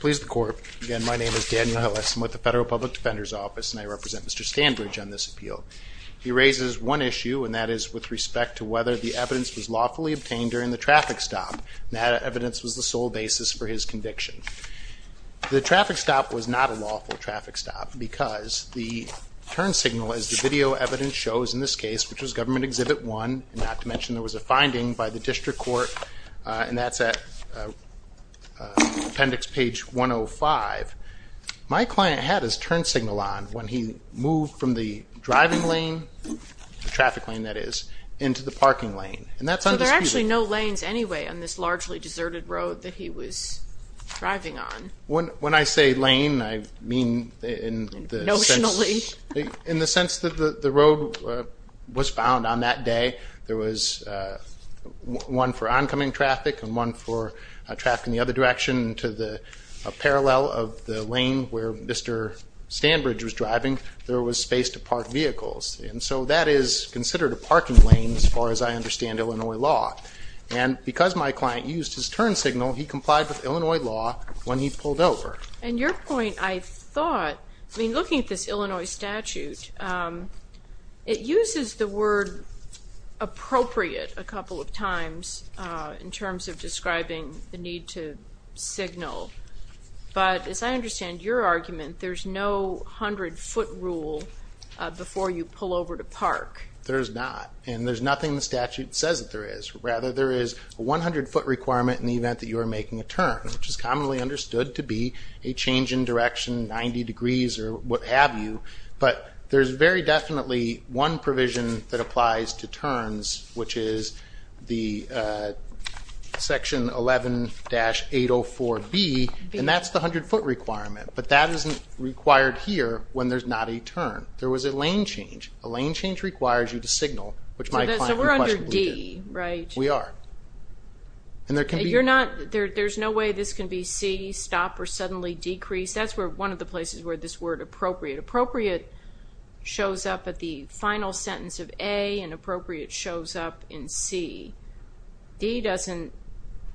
Please the court. Again, my name is Daniel Ellis. I'm with the Federal Public Defender's Office and I represent Mr. Stanbridge on this appeal. He raises one issue and that is with respect to whether the evidence was lawfully obtained during the traffic stop. That evidence was the sole basis for his conviction. The traffic stop was not a lawful traffic stop because the turn signal, as the video evidence shows in this case, which was Government Exhibit 1, not to mention there was a finding by the district court, and that's at appendix page 105. My client had his turn signal on when he moved from the driving lane, the traffic lane that is, into the parking lane. And that's undisputed. So there are actually no lanes anyway on this largely deserted road that he was driving on. When I say lane, I mean in the sense that the road was found on that day. There was one for oncoming traffic and one for traffic in the other direction. To the parallel of the lane where Mr. Stanbridge was driving, there was space to park vehicles. And so that is considered a parking lane as far as I understand Illinois law. And because my client used his turn signal, he complied with Illinois law when he pulled over. And your point, I thought, I mean looking at this Illinois statute, it uses the word appropriate a couple of times in terms of describing the need to signal. But as I understand your argument, there's no hundred foot rule before you pull over to park. There's not. And there's nothing in the statute that says that there is. Rather, there is a 100 foot requirement in the event that you are making a turn, which is commonly understood to be a change in direction, 90 degrees or what have you. But there's very definitely one provision that applies to turns, which is the section 11-804B. And that's the 100 foot requirement. But that isn't required here when there's not a turn. There was a lane change. A lane change requires you to signal, which my client in question did. So we're under D, right? We are. There's no way this can be C, stop or suddenly decrease. That's one of the places where this word appropriate. Appropriate shows up at the final sentence of A, and appropriate shows up in C. D doesn't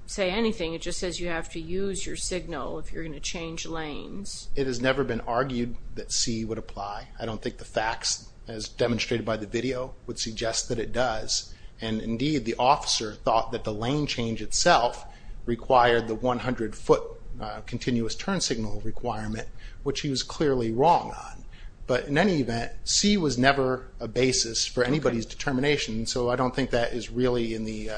say anything. It just says you have to use your signal if you're going to change lanes. It has never been argued that C would apply. I don't think the facts as demonstrated by the video would suggest that it does. And, indeed, the officer thought that the lane change itself required the 100 foot continuous turn signal requirement, which he was clearly wrong on. But in any event, C was never a basis for anybody's determination, so I don't think that is really in the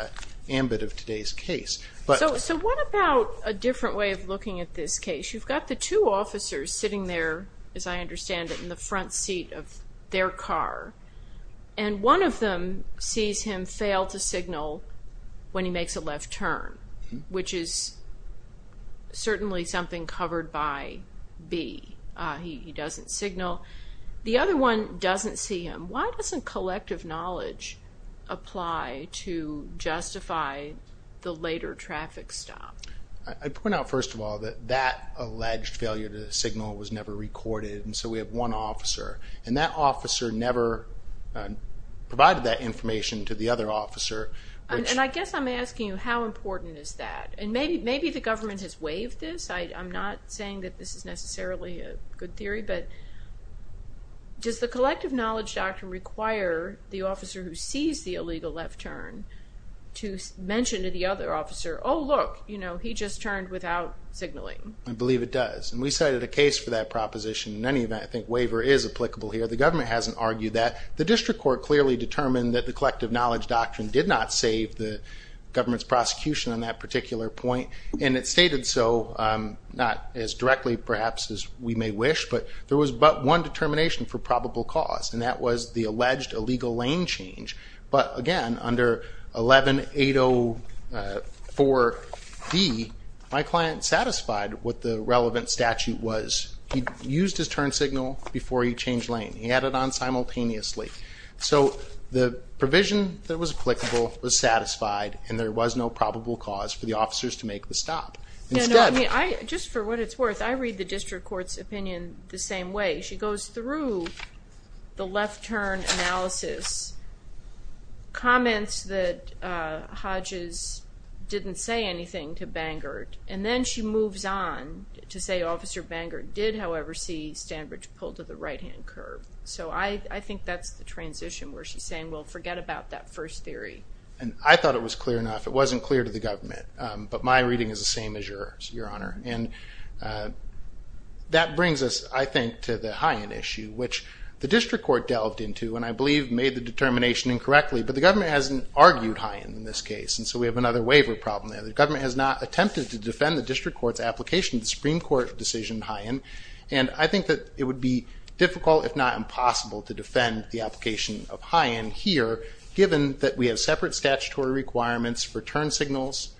ambit of today's case. So what about a different way of looking at this case? You've got the two officers sitting there, as I understand it, in the front seat of their car. And one of them sees him fail to signal when he makes a left turn, which is certainly something covered by B. He doesn't signal. The other one doesn't see him. Why doesn't collective knowledge apply to justify the later traffic stop? I'd point out, first of all, that that alleged failure to signal was never recorded, and so we have one officer. And that officer never provided that information to the other officer. And I guess I'm asking you how important is that? And maybe the government has waived this. I'm not saying that this is necessarily a good theory, but does the collective knowledge doctrine require the officer who sees the illegal left turn to mention to the other officer, oh, look, he just turned without signaling? I believe it does. And we cited a case for that proposition. In any event, I think waiver is applicable here. The government hasn't argued that. The district court clearly determined that the collective knowledge doctrine did not save the government's prosecution on that particular point, and it stated so, not as directly perhaps as we may wish, but there was but one determination for probable cause, and that was the alleged illegal lane change. But, again, under 11-804-D, my client satisfied what the relevant statute was. He used his turn signal before he changed lane. He had it on simultaneously. So the provision that was applicable was satisfied, and there was no probable cause for the officers to make the stop. Just for what it's worth, I read the district court's opinion the same way. She goes through the left turn analysis, comments that Hodges didn't say anything to Bangert, and then she moves on to say Officer Bangert did, however, see Stanbridge pull to the right-hand curb. So I think that's the transition where she's saying, well, forget about that first theory. And I thought it was clear enough. It wasn't clear to the government, but my reading is the same as yours, Your Honor. And that brings us, I think, to the Hyen issue, which the district court delved into and I believe made the determination incorrectly, but the government hasn't argued Hyen in this case, and so we have another waiver problem there. The government has not attempted to defend the district court's application of the Supreme Court decision Hyen, and I think that it would be difficult, if not impossible, to defend the application of Hyen here, given that we have separate statutory requirements for turn signals,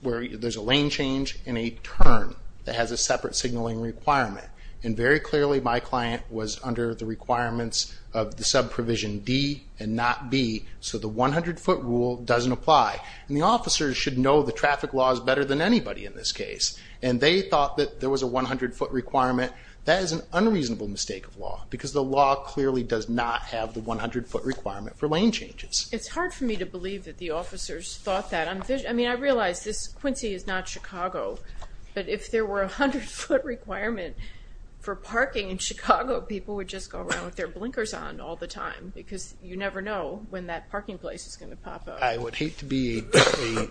where there's a lane change and a turn that has a separate signaling requirement. And very clearly my client was under the requirements of the subprovision D and not B, so the 100-foot rule doesn't apply. And the officers should know the traffic laws better than anybody in this case, and they thought that there was a 100-foot requirement. That is an unreasonable mistake of law, because the law clearly does not have the 100-foot requirement for lane changes. It's hard for me to believe that the officers thought that. I mean, I realize this Quincy is not Chicago, but if there were a 100-foot requirement for parking in Chicago, people would just go around with their blinkers on all the time, because you never know when that parking place is going to pop up. I would hate to be a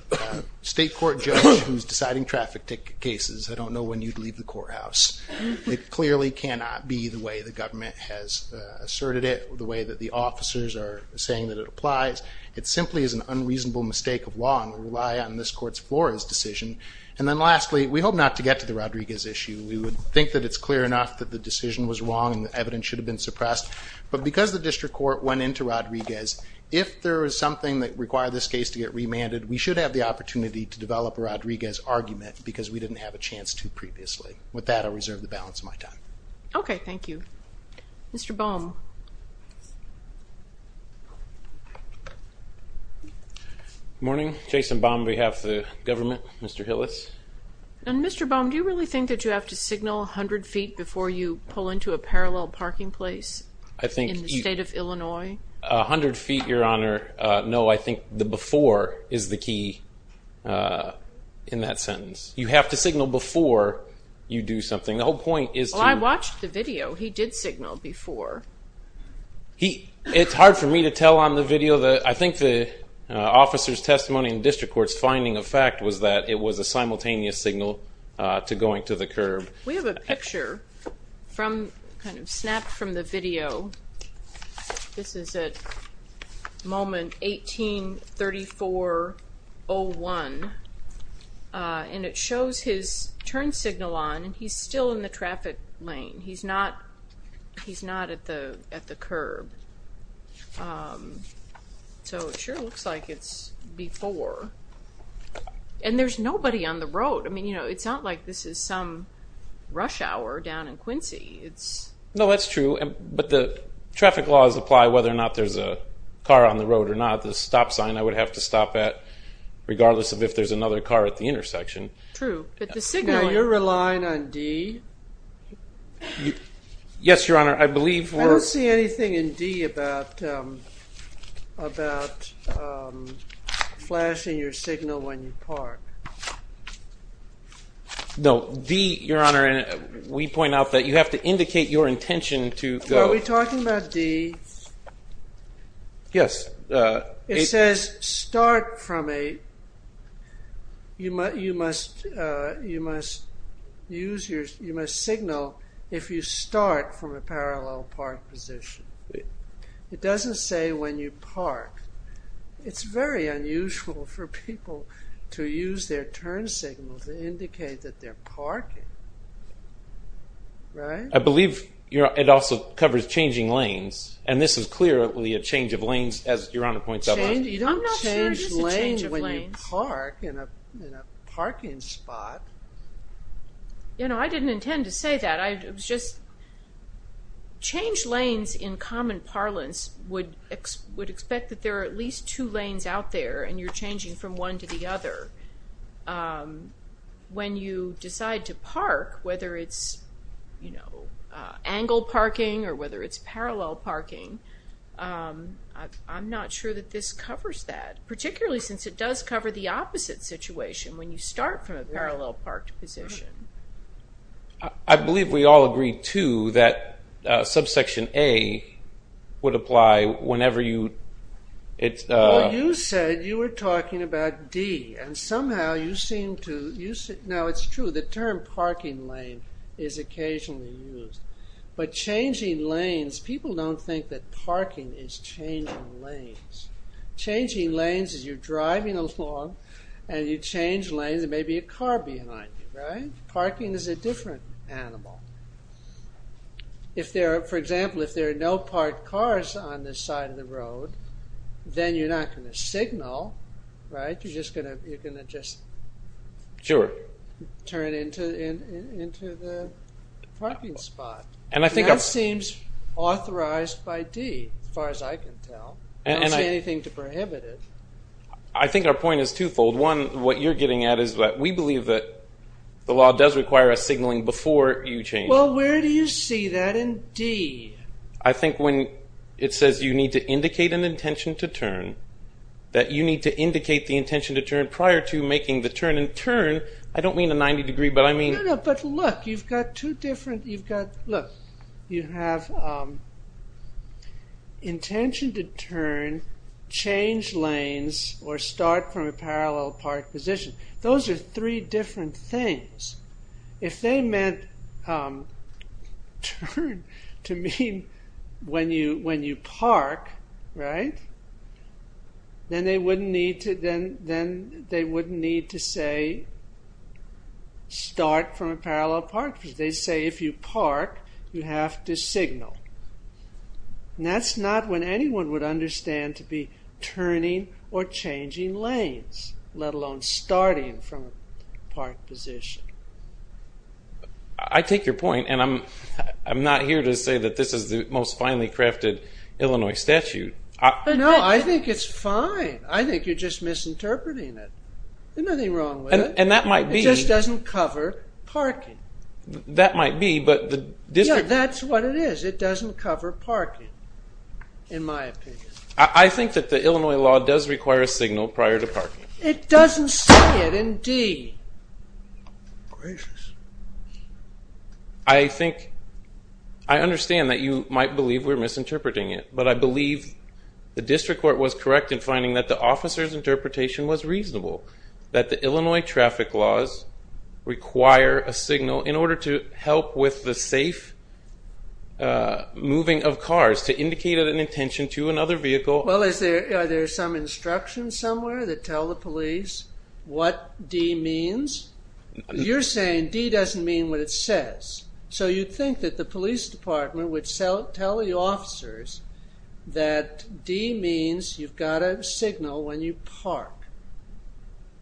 state court judge who's deciding traffic cases. I don't know when you'd leave the courthouse. It clearly cannot be the way the government has asserted it, the way that the officers are saying that it applies. It simply is an unreasonable mistake of law, and we rely on this Court's Flores decision. And then lastly, we hope not to get to the Rodriguez issue. We would think that it's clear enough that the decision was wrong and the evidence should have been suppressed. But because the district court went into Rodriguez, if there is something that required this case to get remanded, we should have the opportunity to develop a Rodriguez argument because we didn't have a chance to previously. With that, I'll reserve the balance of my time. Okay, thank you. Mr. Baum. Good morning. Jason Baum, on behalf of the government. Mr. Hillis. Mr. Baum, do you really think that you have to signal 100 feet before you pull into a parallel parking place in the state of Illinois? 100 feet, Your Honor, no. I think the before is the key in that sentence. You have to signal before you do something. Well, I watched the video. He did signal before. It's hard for me to tell on the video. I think the officer's testimony in the district court's finding of fact was that it was a simultaneous signal to going to the curb. We have a picture kind of snapped from the video. This is at moment 18-34-01. And it shows his turn signal on, and he's still in the traffic lane. He's not at the curb. So it sure looks like it's before. And there's nobody on the road. I mean, you know, it's not like this is some rush hour down in Quincy. No, that's true. But the traffic laws apply whether or not there's a car on the road or not. The stop sign, I would have to stop at, regardless of if there's another car at the intersection. True. Now, you're relying on D? Yes, Your Honor. I don't see anything in D about flashing your signal when you park. No, D, Your Honor, we point out that you have to indicate your intention to go. Are we talking about D? Yes. It says start from a, you must signal if you start from a parallel park position. It doesn't say when you park. It's very unusual for people to use their turn signal to indicate that they're parking. Right? I believe it also covers changing lanes. And this is clearly a change of lanes, as Your Honor points out. I'm not sure it is a change of lanes. You don't change lanes when you park in a parking spot. You know, I didn't intend to say that. It was just change lanes in common parlance would expect that there are at least two lanes out there and you're changing from one to the other. When you decide to park, whether it's, you know, angle parking or whether it's parallel parking, I'm not sure that this covers that, particularly since it does cover the opposite situation when you start from a parallel parked position. I believe we all agree, too, that subsection A would apply whenever you... Well, you said you were talking about D. And somehow you seem to... Now, it's true. The term parking lane is occasionally used. But changing lanes... People don't think that parking is changing lanes. Changing lanes is you're driving along and you change lanes. There may be a car behind you, right? Parking is a different animal. For example, if there are no parked cars on this side of the road, then you're not going to signal, right? You're going to just turn into the parking spot. And that seems authorized by D, as far as I can tell. I don't see anything to prohibit it. I think our point is twofold. One, what you're getting at is that we believe that the law does require us signaling before you change. Well, where do you see that in D? I think when it says you need to indicate an intention to turn, that you need to indicate the intention to turn prior to making the turn. And turn, I don't mean a 90 degree, but I mean... No, no, but look, you've got two different... Look, you have intention to turn, change lanes, or start from a parallel parked position. Those are three different things. If they meant turn to mean when you park, right? Then they wouldn't need to say start from a parallel parked position. They say if you park, you have to signal. And that's not what anyone would understand to be turning or changing lanes, let alone starting from a parked position. I take your point, and I'm not here to say that this is the most finely crafted Illinois statute. No, I think it's fine. I think you're just misinterpreting it. There's nothing wrong with it. And that might be... It just doesn't cover parking. That might be, but the district... Yeah, that's what it is. It doesn't cover parking, in my opinion. I think that the Illinois law does require a signal prior to parking. It doesn't say it, indeed. Gracious. I think... I understand that you might believe we're misinterpreting it, but I believe the district court was correct in finding that the officer's interpretation was reasonable, that the Illinois traffic laws require a signal in order to help with the safe moving of cars, to indicate an intention to another vehicle. Well, are there some instructions somewhere that tell the police what D means? You're saying D doesn't mean what it says. So you think that the police department would tell the officers that D means you've got a signal when you park.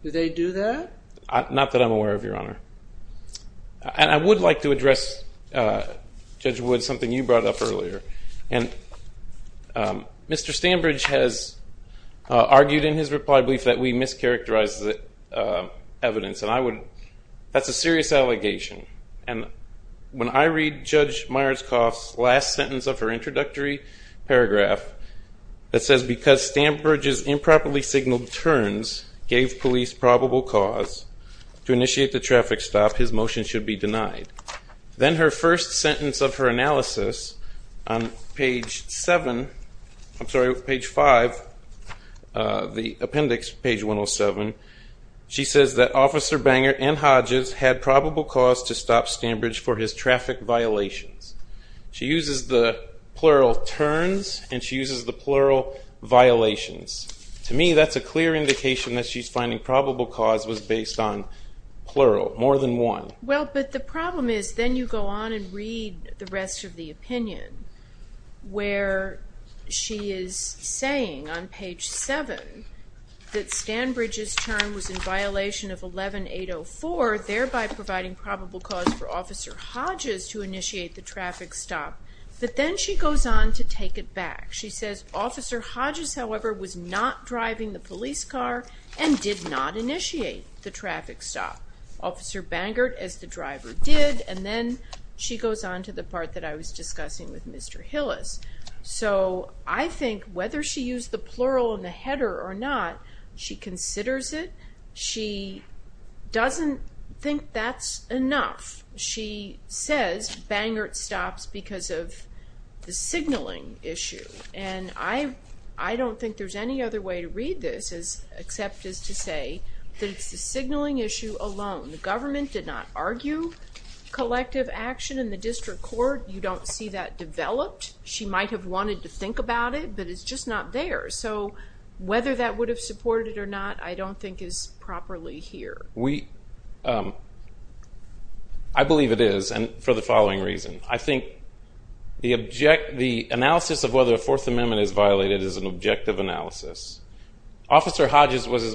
Do they do that? Not that I'm aware of, Your Honor. And I would like to address, Judge Wood, something you brought up earlier. Mr. Stambridge has argued in his reply brief that we mischaracterize the evidence, and that's a serious allegation. And when I read Judge Myerscough's last sentence of her introductory paragraph that says, Because Stambridge's improperly signaled turns gave police probable cause to initiate the traffic stop, his motion should be denied. Then her first sentence of her analysis on page 7, I'm sorry, page 5, the appendix, page 107, she says that Officer Banger and Hodges had probable cause to stop Stambridge for his traffic violations. She uses the plural turns and she uses the plural violations. To me, that's a clear indication that she's finding probable cause was based on plural, more than one. Well, but the problem is then you go on and read the rest of the opinion where she is saying on page 7 that Stambridge's turn was in violation of 11-804, thereby providing probable cause for Officer Hodges to initiate the traffic stop. But then she goes on to take it back. She says, Officer Hodges, however, was not driving the police car and did not initiate the traffic stop. Officer Bangert, as the driver, did, and then she goes on to the part that I was discussing with Mr. Hillis. So I think whether she used the plural in the header or not, she considers it. She doesn't think that's enough. She says Bangert stops because of the signaling issue, and I don't think there's any other way to read this except as to say that it's the signaling issue alone. The government did not argue collective action in the district court. You don't see that developed. She might have wanted to think about it, but it's just not there. So whether that would have supported it or not I don't think is properly here. I believe it is for the following reason. I think the analysis of whether a Fourth Amendment is violated is an objective analysis. Officer Hodges was as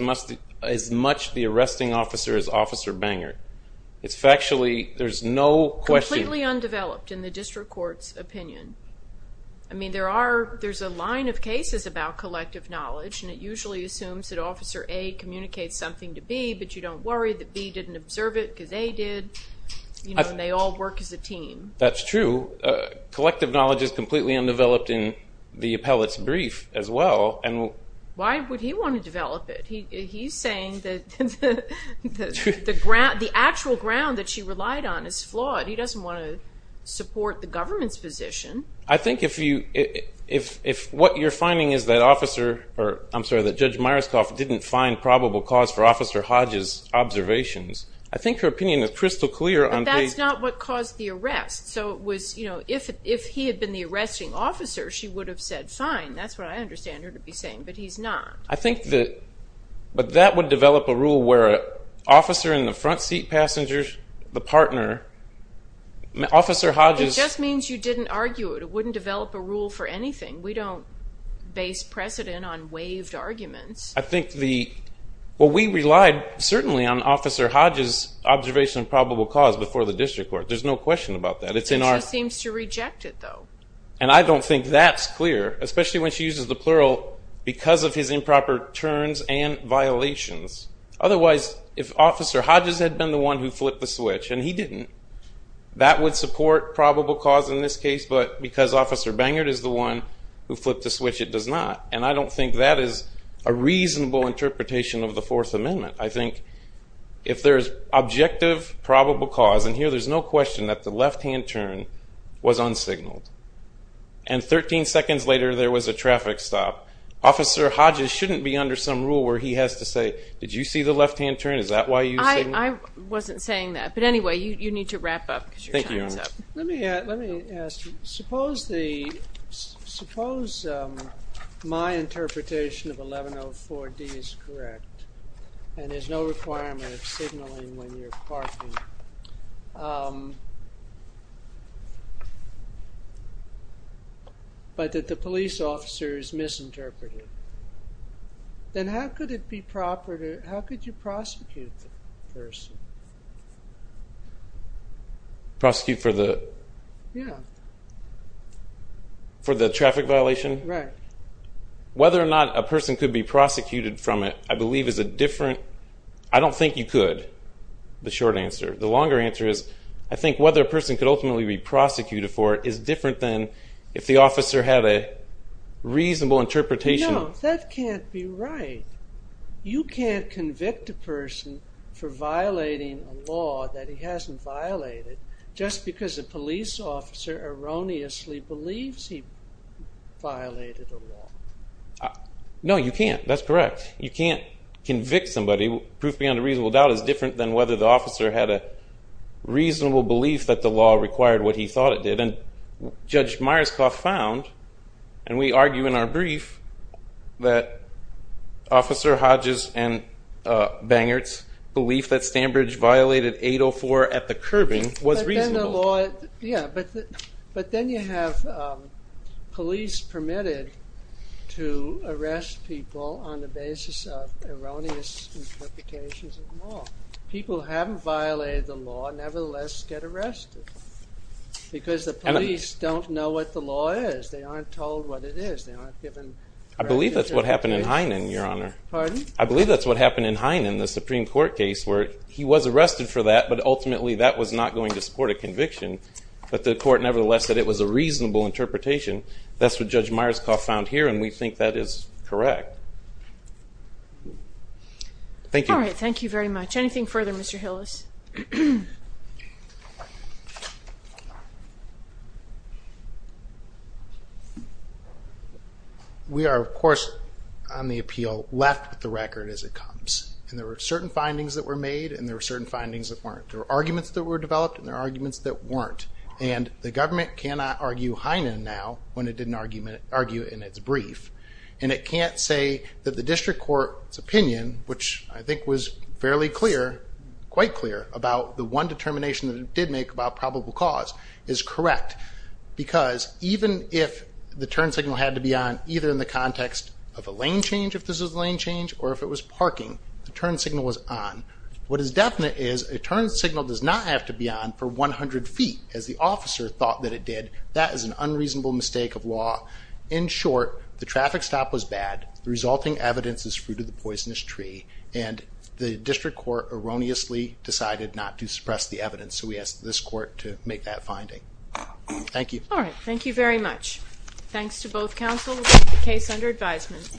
much the arresting officer as Officer Bangert. It's factually, there's no question. Completely undeveloped in the district court's opinion. I mean, there's a line of cases about collective knowledge, and it usually assumes that Officer A communicates something to B, but you don't worry that B didn't observe it because A did, and they all work as a team. That's true. Collective knowledge is completely undeveloped in the appellate's brief as well, and we'll Why would he want to develop it? He's saying that the actual ground that she relied on is flawed. He doesn't want to support the government's position. I think if what you're finding is that Judge Myerscoff didn't find probable cause for Officer Hodges' observations, I think her opinion is crystal clear on But that's not what caused the arrest. So if he had been the arresting officer, she would have said, Fine, that's what I understand her to be saying, but he's not. But that would develop a rule where an officer in the front seat passenger, the partner, Officer Hodges It just means you didn't argue it. It wouldn't develop a rule for anything. We don't base precedent on waived arguments. I think the Well, we relied certainly on Officer Hodges' observation of probable cause before the district court. There's no question about that. She seems to reject it, though. And I don't think that's clear, especially when she uses the plural, because of his improper turns and violations. Otherwise, if Officer Hodges had been the one who flipped the switch, and he didn't, that would support probable cause in this case. But because Officer Bangard is the one who flipped the switch, it does not. And I don't think that is a reasonable interpretation of the Fourth Amendment. I think if there's objective probable cause, and here there's no question that the left-hand turn was unsignaled. And 13 seconds later, there was a traffic stop. Officer Hodges shouldn't be under some rule where he has to say, did you see the left-hand turn? Is that why you signaled? I wasn't saying that. But anyway, you need to wrap up, because your time is up. Thank you, Your Honor. Let me ask you, suppose my interpretation of 1104D is correct, and there's no requirement of signaling when you're parking, but that the police officer is misinterpreted. Then how could you prosecute the person? Prosecute for the traffic violation? Right. Whether or not a person could be prosecuted from it, I don't think you could, the short answer. The longer answer is, I think whether a person could ultimately be prosecuted for it is different than if the officer had a reasonable interpretation. No, that can't be right. You can't convict a person for violating a law that he hasn't violated just because a police officer erroneously believes he violated a law. No, you can't. That's correct. You can't convict somebody. Proof beyond a reasonable doubt is different than whether the officer had a reasonable belief that the law required what he thought it did. Judge Myerscough found, and we argue in our brief, that Officer Hodges and Bangert's belief that Stanbridge violated 804 at the curbing was reasonable. But then you have police permitted to arrest people on the basis of erroneous interpretations of the law. People who haven't violated the law nevertheless get arrested because the police don't know what the law is. They aren't told what it is. I believe that's what happened in Heinen, Your Honor. Pardon? I believe that's what happened in Heinen, the Supreme Court case, where he was arrested for that, but ultimately that was not going to support a conviction. But the court nevertheless said it was a reasonable interpretation. That's what Judge Myerscough found here, and we think that is correct. Thank you. All right, thank you very much. Anything further, Mr. Hillis? We are, of course, on the appeal, left with the record as it comes. And there were certain findings that were made, and there were certain findings that weren't. There were arguments that were developed, and there were arguments that weren't. And the government cannot argue Heinen now when it didn't argue it in its brief. And it can't say that the district court's opinion, which I think was fairly clear, quite clear, about the one determination that it did make about probable cause, is correct. Because even if the turn signal had to be on either in the context of a lane change, if this was a lane change, or if it was parking, the turn signal was on. What is definite is a turn signal does not have to be on for 100 feet, as the officer thought that it did. That is an unreasonable mistake of law. In short, the traffic stop was bad, the resulting evidence is fruit of the poisonous tree, and the district court erroneously decided not to suppress the evidence. So we ask this court to make that finding. Thank you. All right, thank you very much. Thanks to both counsel. The case under advisement.